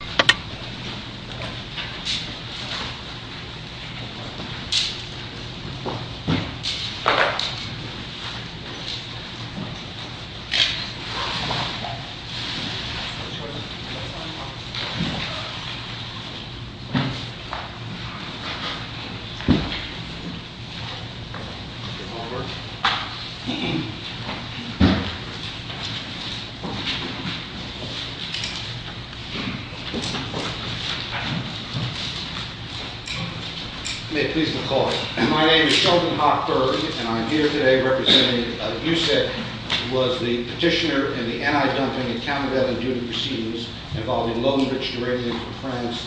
OK. My name is Sheldon Hawthorne, and I'm here today representing USEC, who was the petitioner in the anti-dumping and counterfeiting duty proceedings involving Loewenreich Durandian from France,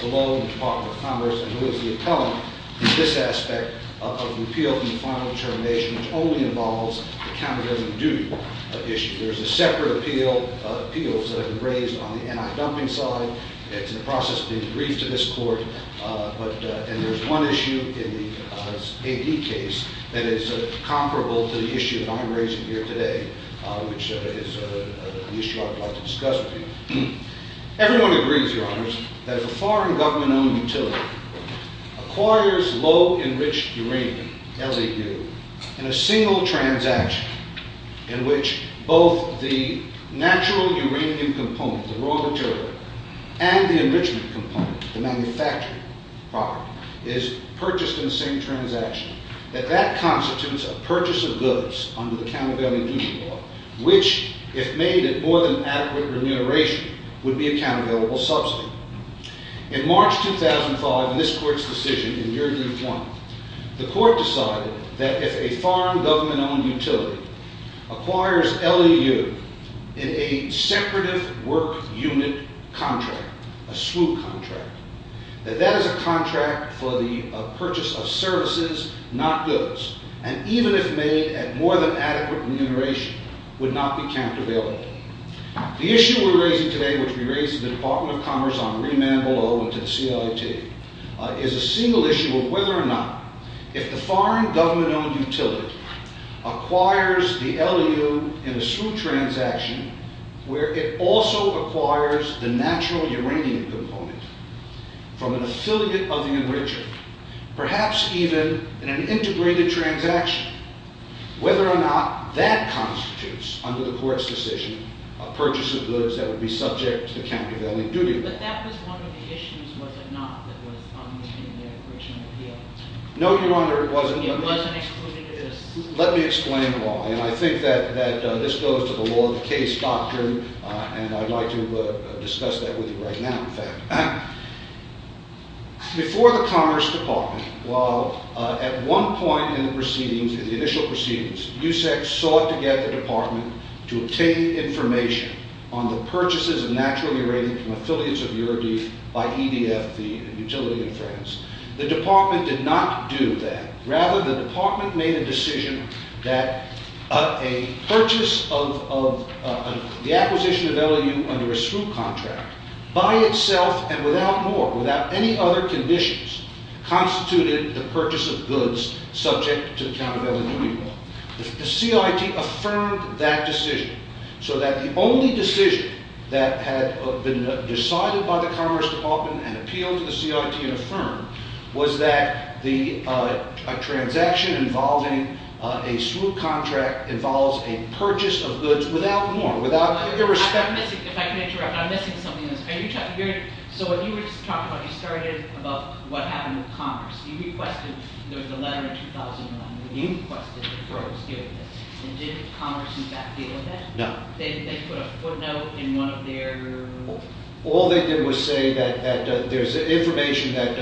the loan, and the Department of Commerce, and who is the appellant for this aspect of the appeal from the final determination, which only involves the counterfeiting duty issue. There's a separate appeals that have been raised on the anti-dumping side. It's in the process of being briefed to this court. And there's one issue in the AD case that is comparable to the issue that I'm raising here today, which is an issue I'd like to discuss with you. Everyone agrees, Your Honors, that if a foreign government-owned utility acquires Loewenreich Durandian, LEU, in a single transaction in which both the natural uranium component, the raw material, and the enrichment component, the manufactured product, is purchased in the same transaction, that that constitutes a purchase of goods under the counterfeiting duty law, which, if made at more than adequate remuneration, would be a counterfeitable subsidy. In March 2005, in this court's decision, in Year 8-1, the court decided that if a foreign government-owned utility acquires LEU in a separative work unit contract, a SWU contract, that that is a contract for the purchase of services, not goods, and even if made at more than adequate remuneration, would not be counterfeitable. The issue we're raising today, which we raised to the Department of Commerce on remand below and to the CLAT, is a single issue of whether or not, if the foreign government-owned utility acquires the LEU in a SWU transaction where it also acquires the natural uranium component from an affiliate of the enricher, perhaps even in an integrated transaction, whether or not that constitutes, under the court's decision, a purchase of goods that would be subject to the counterfeiting duty law. But that was one of the issues, was it not, that was under the enrichment deal? No, Your Honor, it wasn't. It wasn't excluded as a suit? Let me explain why, and I think that this goes to the law of the case doctrine, and Before the Commerce Department, while at one point in the proceedings, in the initial proceedings, USEC sought to get the department to obtain information on the purchases of natural uranium from affiliates of EURD by EDF, the utility in France. The department did not do that. Rather, the department made a decision that a purchase of, the acquisition of LEU under a SWU contract, by itself and without more, without any other conditions, constituted the purchase of goods subject to the counterfeiting duty law. The CIT affirmed that decision so that the only decision that had been decided by the Commerce Department and appealed to the CIT and affirmed was that the transaction involving a SWU contract involves a purchase of goods without more, without irrespective I'm missing, if I can interrupt, I'm missing something in this. Are you talking here, so what you were talking about, you started about what happened with Commerce. You requested, there was a letter in 2001, you requested that the court was doing this. And did Commerce in fact deal with that? No. They put a footnote in one of their... All they did was say that there's information that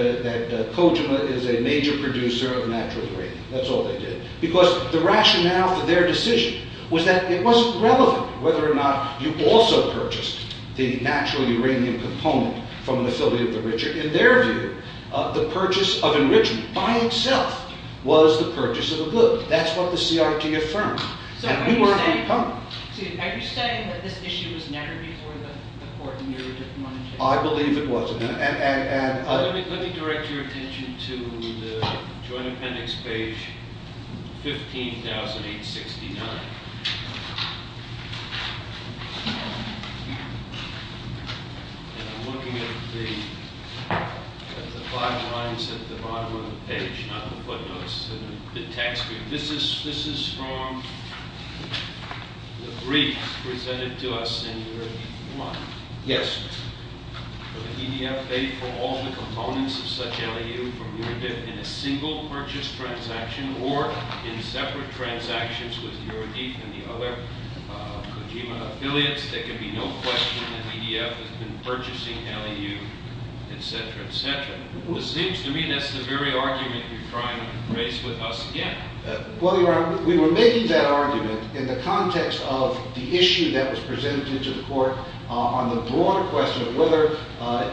Kojima is a major producer of natural uranium, that's all they did. Because the rationale for their decision was that it wasn't relevant whether or not you also purchased the natural uranium component from an affiliate of the richer. In their view, the purchase of enrichment by itself was the purchase of a good. That's what the CIT affirmed. So are you saying that this issue was never before the court and there were different ones? I believe it wasn't. Let me direct your attention to the Joint Appendix page 15869. And I'm looking at the five lines at the bottom of the page, not the footnotes, the text. This is from the briefs presented to us in European 1. Yes. The EDF paid for all the components of such LEU from Eurodip in a single purchase transaction or in separate transactions with Eurodip and the other Kojima affiliates. There can be no question that EDF has been purchasing LEU, etc., etc. It seems to me that's the very argument you're trying to raise with us again. Well, Your Honor, we were making that argument in the context of the issue that was presented to the court on the broader question of whether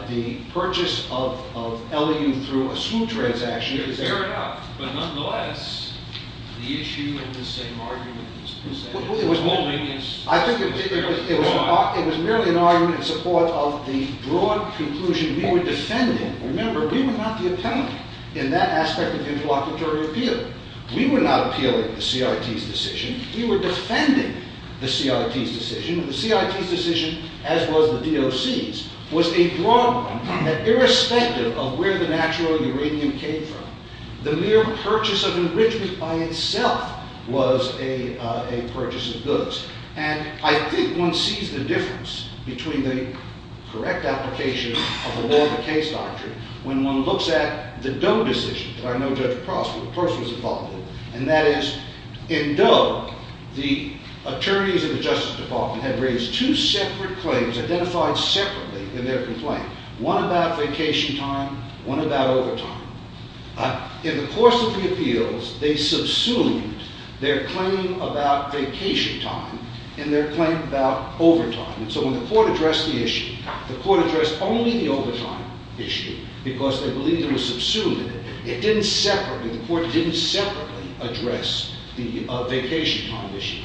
the purchase of LEU through a smooth transaction is... Fair enough. But nonetheless, the issue of the same argument was presented. I think it was merely an argument in support of the broad conclusion we were defending. Remember, we were not the appellant in that aspect of the interlocutory appeal. We were not appealing the CIT's decision. We were defending the CIT's decision. And the CIT's decision, as was the DOC's, was a broad one that irrespective of where the natural uranium came from, the mere purchase of enrichment by itself was a purchase of goods. And I think one sees the difference between the correct application of the law of the case doctrine when one looks at the Doe decision that I know Judge Cross, who of course was involved in it. And that is, in Doe, the attorneys in the Justice Department had raised two separate claims, identified separately in their complaint, one about vacation time, one about overtime. In the course of the appeals, they subsumed their claim about vacation time and their claim about overtime. And so when the court addressed the issue, the court addressed only the overtime issue because they believed it was subsumed in it. It didn't separately, the court didn't separately address the vacation time issue.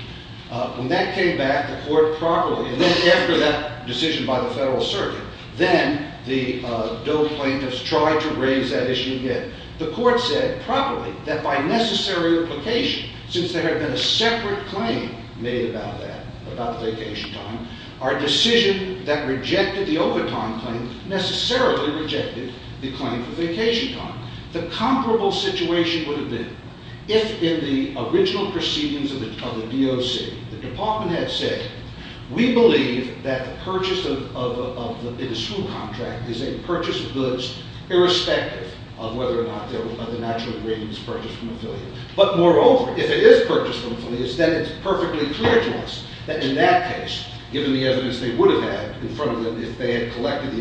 When that came back, the court properly, and then after that decision by the federal surgeon, then the Doe plaintiffs tried to raise that issue again. The court said properly that by necessary replication, since there had been a separate claim made about that, about vacation time, our decision that rejected the overtime claim necessarily rejected the claim for vacation time. The comparable situation would have been if in the original proceedings of the DOC, the department had said, we believe that the purchase of the school contract is a purchase of goods irrespective of whether or not there were other natural ingredients purchased from affiliates. But moreover, if it is purchased from affiliates, then it's perfectly clear to us that in that case, given the evidence they would have had in front of them if they had collected the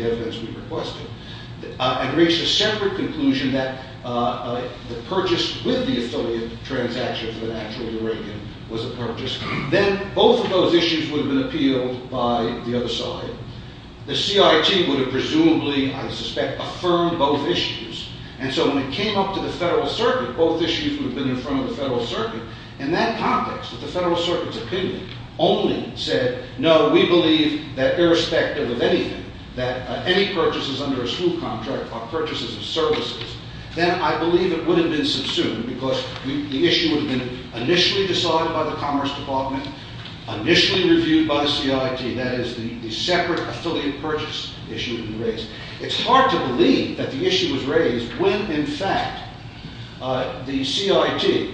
purchase with the affiliate transaction for the natural ingredient was a purchase, then both of those issues would have been appealed by the other side. The CIT would have presumably, I suspect, affirmed both issues. And so when it came up to the federal circuit, both issues would have been in front of the federal circuit. In that context, the federal circuit's opinion only said, no, we believe that irrespective of anything, that any purchases under a school contract are purchases of services. Then I believe it would have been subsumed because the issue would have been initially decided by the Commerce Department, initially reviewed by the CIT. That is, the separate affiliate purchase issue would have been raised. It's hard to believe that the issue was raised when, in fact, the CIT,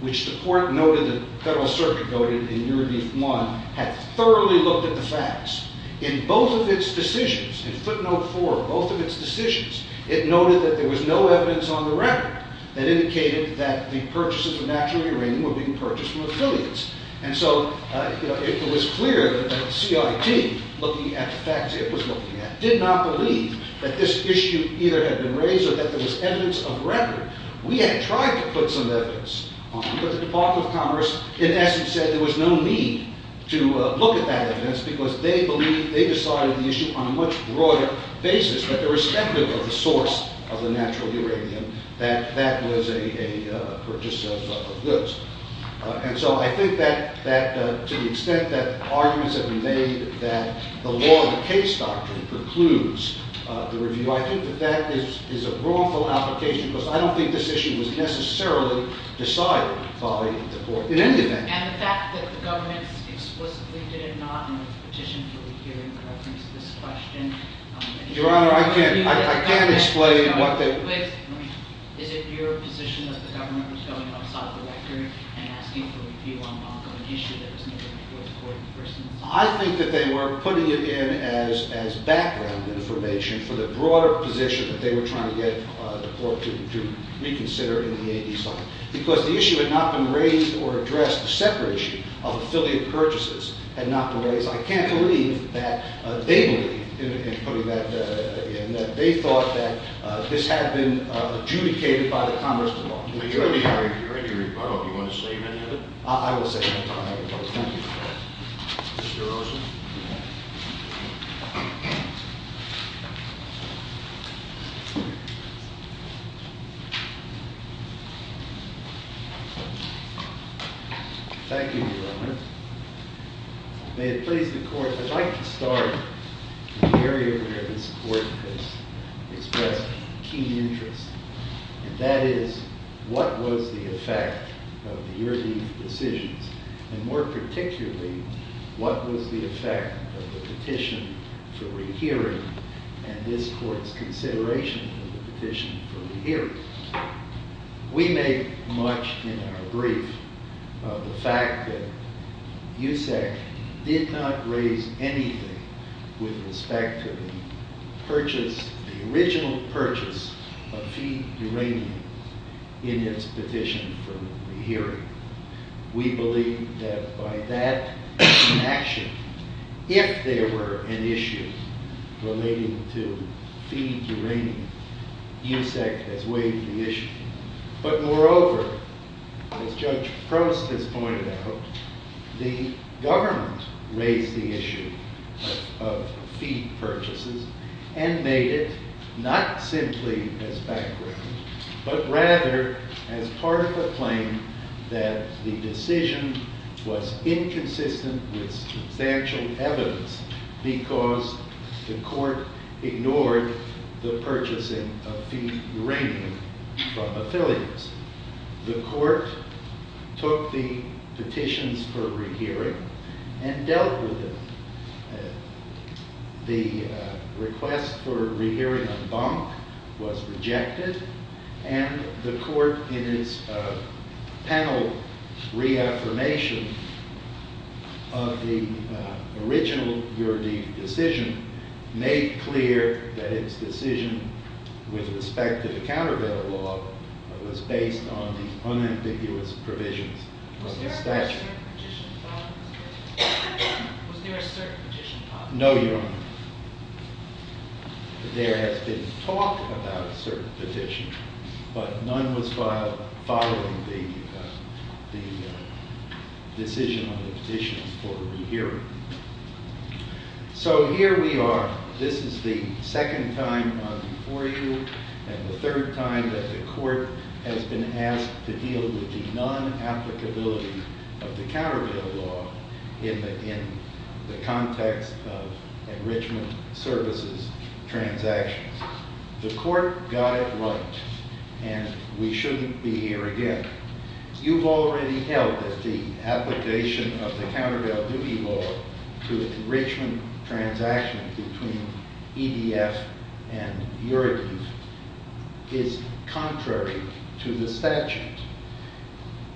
which the court noted that the federal circuit voted in year 1, had thoroughly looked at the facts. In both of its decisions, in footnote 4, both of its decisions, it noted that there was no evidence on the record that indicated that the purchases of natural uranium were being purchased from affiliates. And so it was clear that the CIT, looking at the facts it was looking at, did not believe that this issue either had been raised or that there was evidence of record. We had tried to put some evidence on, but the Department of Commerce, in essence, said there was no need to look at that evidence because they decided the issue on a much broader basis that irrespective of the source of the natural uranium, that that was a purchase of goods. And so I think that to the extent that arguments have been made that the law of the case doctrine precludes the review, I think that that is a wrongful application because I don't think this issue was necessarily decided following the court. In any event... And the fact that the government explicitly did not, in its petition to the hearing, reference this question... Your Honor, I can't explain what they... Is it your position that the government was going outside the record and asking for a review on an ongoing issue that was never before the court in person? I think that they were putting it in as background information for the broader position that they were trying to get the court to reconsider in the AD side. Because the issue had not been raised or addressed, the separation of affiliate purchases had not been raised. I can't believe that they believed in putting that in. They thought that this had been adjudicated by the Commerce Department. You're in your rebuttal. Do you want to say anything? I will say nothing. Thank you. Mr. Olson? Thank you, Your Honor. May it please the court, I'd like to start in the area where this court has expressed keen interest. And that is, what was the effect of the early decisions? And more particularly, what was the effect of the petition for rehearing and this court's consideration of the petition for rehearing? We make much in our brief of the fact that USEC did not raise anything with respect to the purchase, the original purchase of feed uranium in its petition for rehearing. We believe that by that action, if there were an issue relating to feed uranium, USEC has waived the issue. But moreover, as Judge Prost has pointed out, the government raised the issue of feed purchases and made it not simply as background, but rather as part of a claim that the decision was inconsistent with substantial evidence because the court ignored the purchasing of feed uranium from affiliates. The court took the petitions for rehearing and dealt with it. The request for rehearing en banc was rejected and the court, in its panel reaffirmation of the original verdict decision, made clear that its decision with respect to the counter was based on the unambiguous provisions of the statute. Was there a cert petition filed in this case? Was there a cert petition filed? No, Your Honor. There has been talk about a cert petition, but none was filed following the decision on the petition for rehearing. So here we are. This is the second time before you and the third time that the court has been asked to deal with the non-applicability of the counter bail law in the context of enrichment services transactions. The court got it right, and we shouldn't be here again. You've already held that the application of the counter bail duty law to enrichment transactions between EDF and Uradiv is contrary to the statute.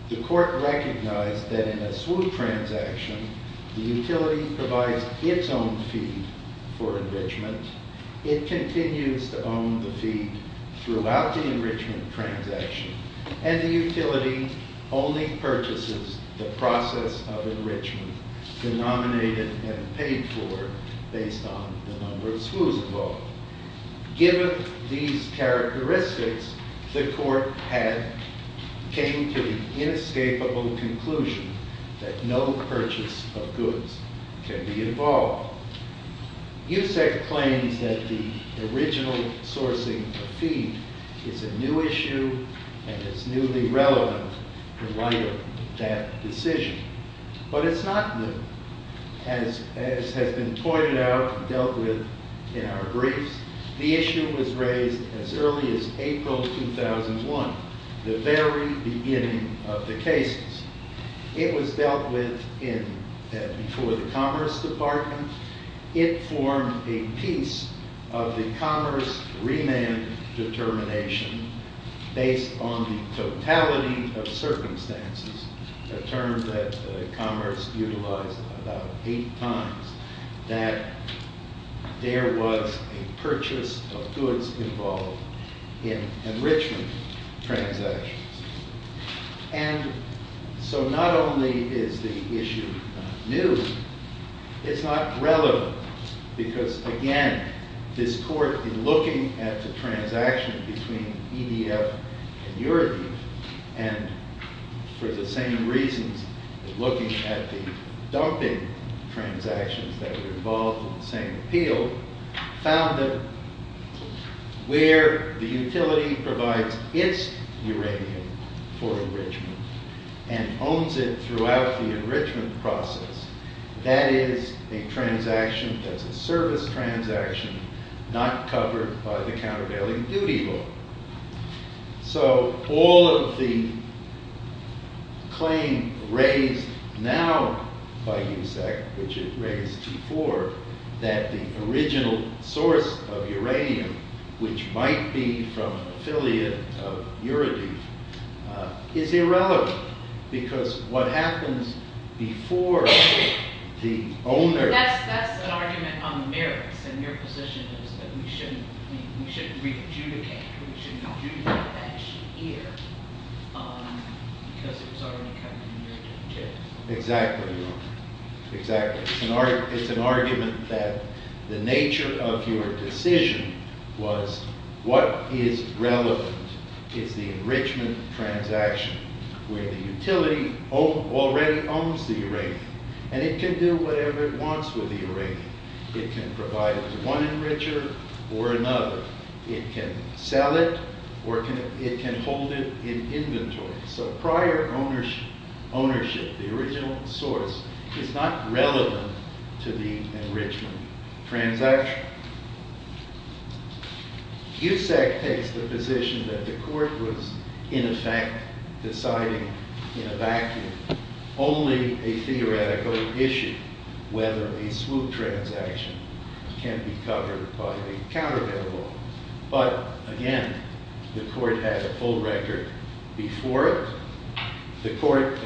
The court recognized that in a SWOOP transaction, the utility provides its own feed for enrichment. It continues to own the feed throughout the enrichment transaction, and the utility only based on the number of SWOOPs involved. Given these characteristics, the court came to the inescapable conclusion that no purchase of goods can be involved. USEC claims that the original sourcing of feed is a new issue, and it's newly relevant in light of that decision. But it's not new. As has been pointed out and dealt with in our briefs, the issue was raised as early as April 2001, the very beginning of the cases. It was dealt with before the Commerce Department. It formed a piece of the commerce remand determination based on the totality of circumstances, a term that commerce utilized about eight times, that there was a purchase of goods involved in enrichment transactions. And so not only is the issue new, it's not relevant because, again, this court, in looking at the transaction between EDF and Uradine, and for the same reasons, looking at the dumping transactions that were involved in the same appeal, found that where the utility provides its uranium for enrichment and owns it throughout the enrichment process, that is a transaction that's a service transaction not covered by the countervailing duty law. So all of the claim raised now by USEC, which it raised before, that the original source of uranium, which might be from an affiliate of Uradine, is irrelevant because what happens before the owner- That's an argument on the merits. And your position is that we shouldn't re-adjudicate. We shouldn't re-adjudicate that issue here because it was already covered in your judgment. Exactly. Exactly. It's an argument that the nature of your decision was what is relevant is the enrichment transaction, where the utility already owns the uranium. And it can do whatever it wants with the uranium. It can provide it to one enricher or another. It can sell it or it can hold it in inventory. So prior ownership, the original source, is not relevant to the enrichment transaction. USEC takes the position that the court was in effect deciding in a vacuum only a theoretical issue, whether a swoop transaction can be covered by a countervailing law. But again, the court had a full record before it. The court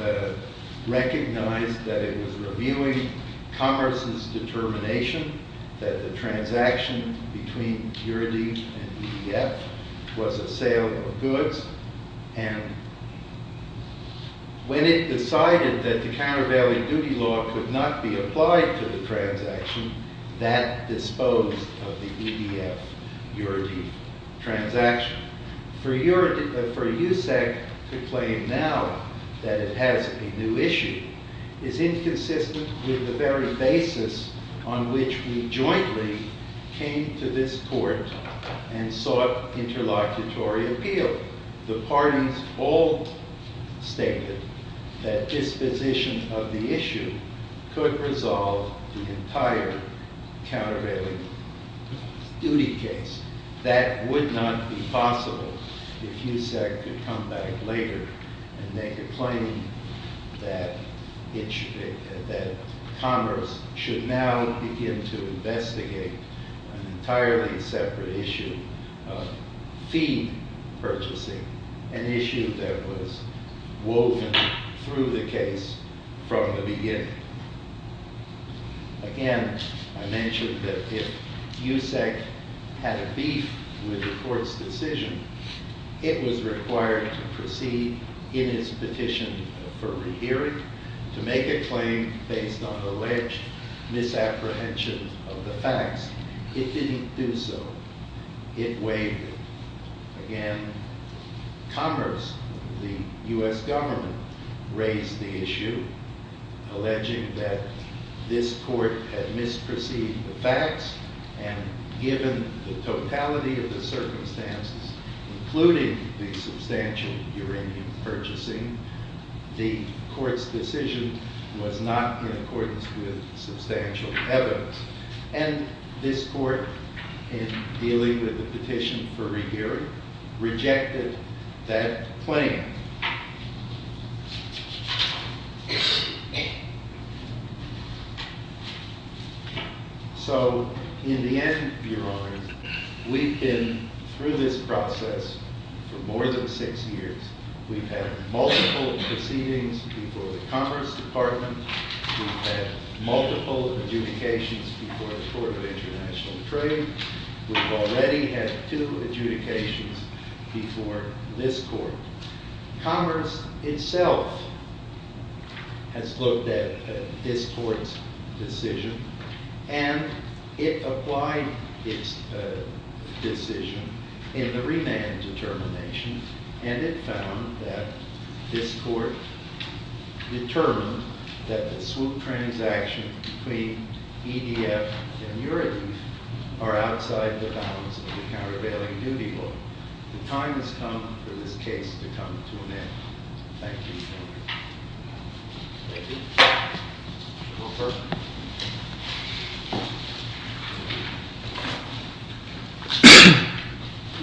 recognized that it was reviewing Congress's determination that the transaction between Uradine and EDF was a sale of goods. And when it decided that the countervailing duty law could not be applied to the transaction, that disposed of the EDF-Uradine transaction. For USEC to claim now that it has a new issue is inconsistent with the very basis on which we jointly came to this court and sought interlocutory appeal. The parties all stated that disposition of the issue could resolve the entire countervailing duty case. That would not be possible if USEC could come back later and make a claim that Congress should now begin to investigate an entirely separate issue of fee purchasing, an issue that was woven through the case from the beginning. Again, I mentioned that if USEC had a beef with the court's decision, it was required to proceed in its petition for rehearing to make a claim based on alleged misapprehension of the facts. It didn't do so. It waived it. Again, Congress, the US government, raised the issue, alleging that this court had misperceived the facts, and given the totality of the circumstances, including the substantial uranium purchasing, the court's decision was not in accordance with substantial evidence. And this court, in dealing with the petition for rehearing, rejected that claim. So in the end, Your Honor, we've been through this process for more than six years. We've had multiple proceedings before the Congress Department. We've had multiple adjudications before the Court of International Trade. We've already had two adjudications before this court. Congress itself has looked at this court's decision, and it applied its decision in the remand determination. And it found that this court determined that the swoop transaction between EDF and Euraleaf are outside the bounds of the countervailing duty law. The time has come for this case to come to an end. Thank you. Thank you.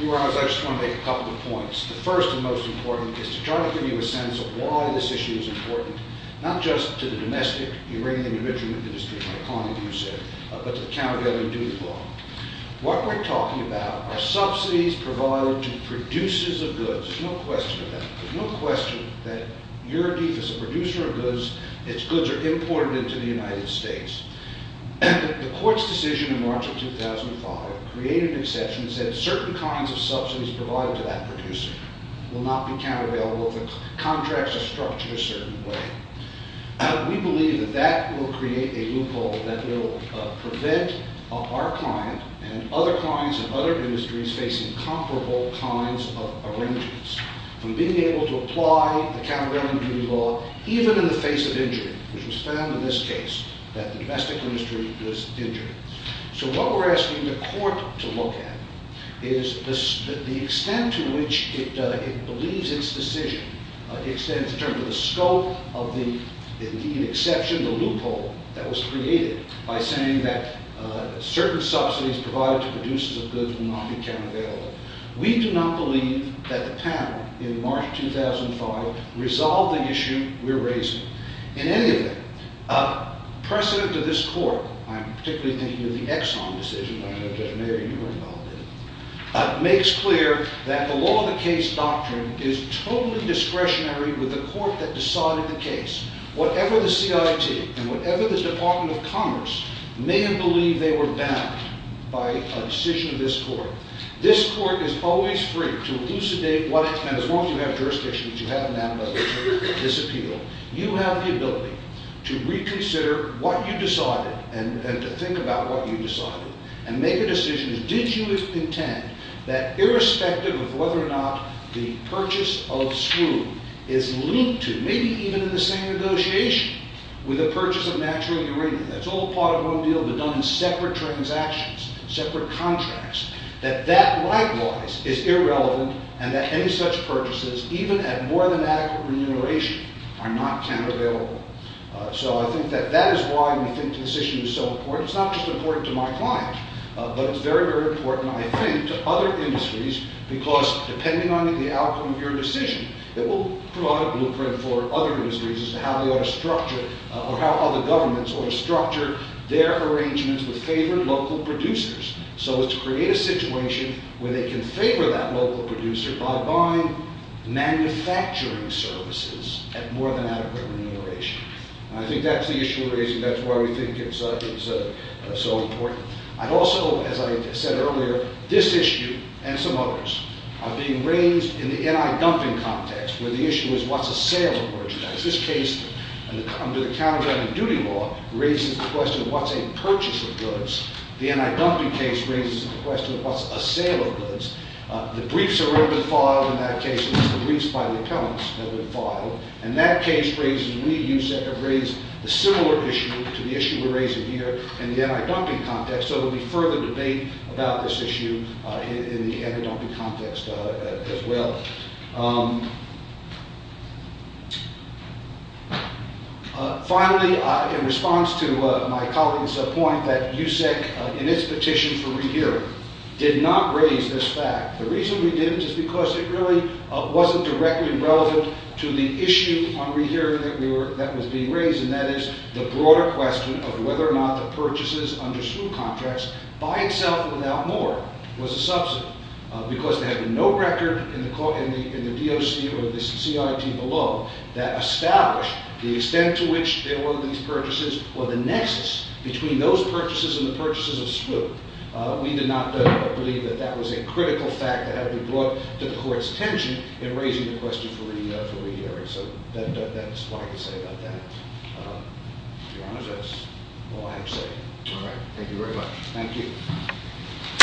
Your Honor, I just want to make a couple of points. The first and most important is to try to give you a sense of why this issue is important, not just to the domestic uranium enrichment industry, like Connie, you said, but to the countervailing duty law. What we're talking about are subsidies provided to producers of goods. There's no question of that. There's no question that Euraleaf is a producer of goods. Its goods are imported into the United States. The court's decision in March of 2005 created an exception that said certain kinds of subsidies provided to that producer will not be countervailable if the contracts are structured a certain way. We believe that that will create a loophole that will prevent our client and other clients and other industries facing comparable kinds of arrangements from being able to apply the countervailing duty law even in the face of injury, which was found in this case that the domestic industry was injured. So what we're asking the court to look at is the extent to which it believes its decision extends in terms of the scope of the exception, the loophole that was created by saying that certain subsidies provided to producers of goods will not be countervailable. We do not believe that the panel in March 2005 resolved the issue we're raising. In any event, precedent to this court, I'm particularly thinking of the Exxon decision, I know, Judge Mary, you were involved in, makes clear that the law of the case doctrine is totally discretionary with the court that decided the case. Whatever the CIT and whatever the Department of Commerce may have believed they were bound by a decision of this court, this court is always free to elucidate what it, and as long as you have jurisdiction that you have a mandate to disappeal, you have the ability to reconsider what you decided and to think about what you decided and make a decision as did you intend that irrespective of whether or not the purchase of screw is linked to, maybe even in the same negotiation, with the purchase of natural uranium, that's all part of one deal but done in separate transactions, separate contracts, that that likewise is irrelevant and that any such purchases, even at more than adequate remuneration, are not countervailable. So I think that that is why we think this issue is so important. It's not just important to my client, but it's very, very important, I think, to other industries because depending on the outcome of your decision, it will provide a blueprint for other industries as to how they ought to structure or how other governments ought to structure their arrangements with favored local producers so as to create a situation where they can favor that local producer by buying manufacturing services at more than adequate remuneration. I think that's the issue we're raising, that's why we think it's so important. I'd also, as I said earlier, this issue and some others are being raised in the anti-dumping context where the issue is what's a sale of merchandise. This case, under the countervailing duty law, raises the question of what's a purchase of goods. The anti-dumping case raises the question of what's a sale of goods. The briefs are ever filed in that case. It's the briefs by the appellants that are filed. And that case raises, we, USEC, have raised a similar issue to the issue we're raising here in the anti-dumping context, so there will be further debate about this issue in the anti-dumping context as well. Finally, in response to my colleague's point that USEC, in its petition for rehearing, did not raise this fact. The reason we didn't is because it really wasn't directly relevant to the issue on rehearing that was being raised, and that is the broader question of whether or not the purchases under SLU contracts, by itself or without more, was a substitute, because there had been no record in the DOC or the CIT below that established the extent to which there were these purchases or the nexus between those purchases and the purchases of SLU. We did not believe that that was a critical fact that had to be brought to the Court's attention in raising the question for rehearing, so that's what I can say about that. Your Honor, that's all I have to say. All right, thank you very much. Thank you.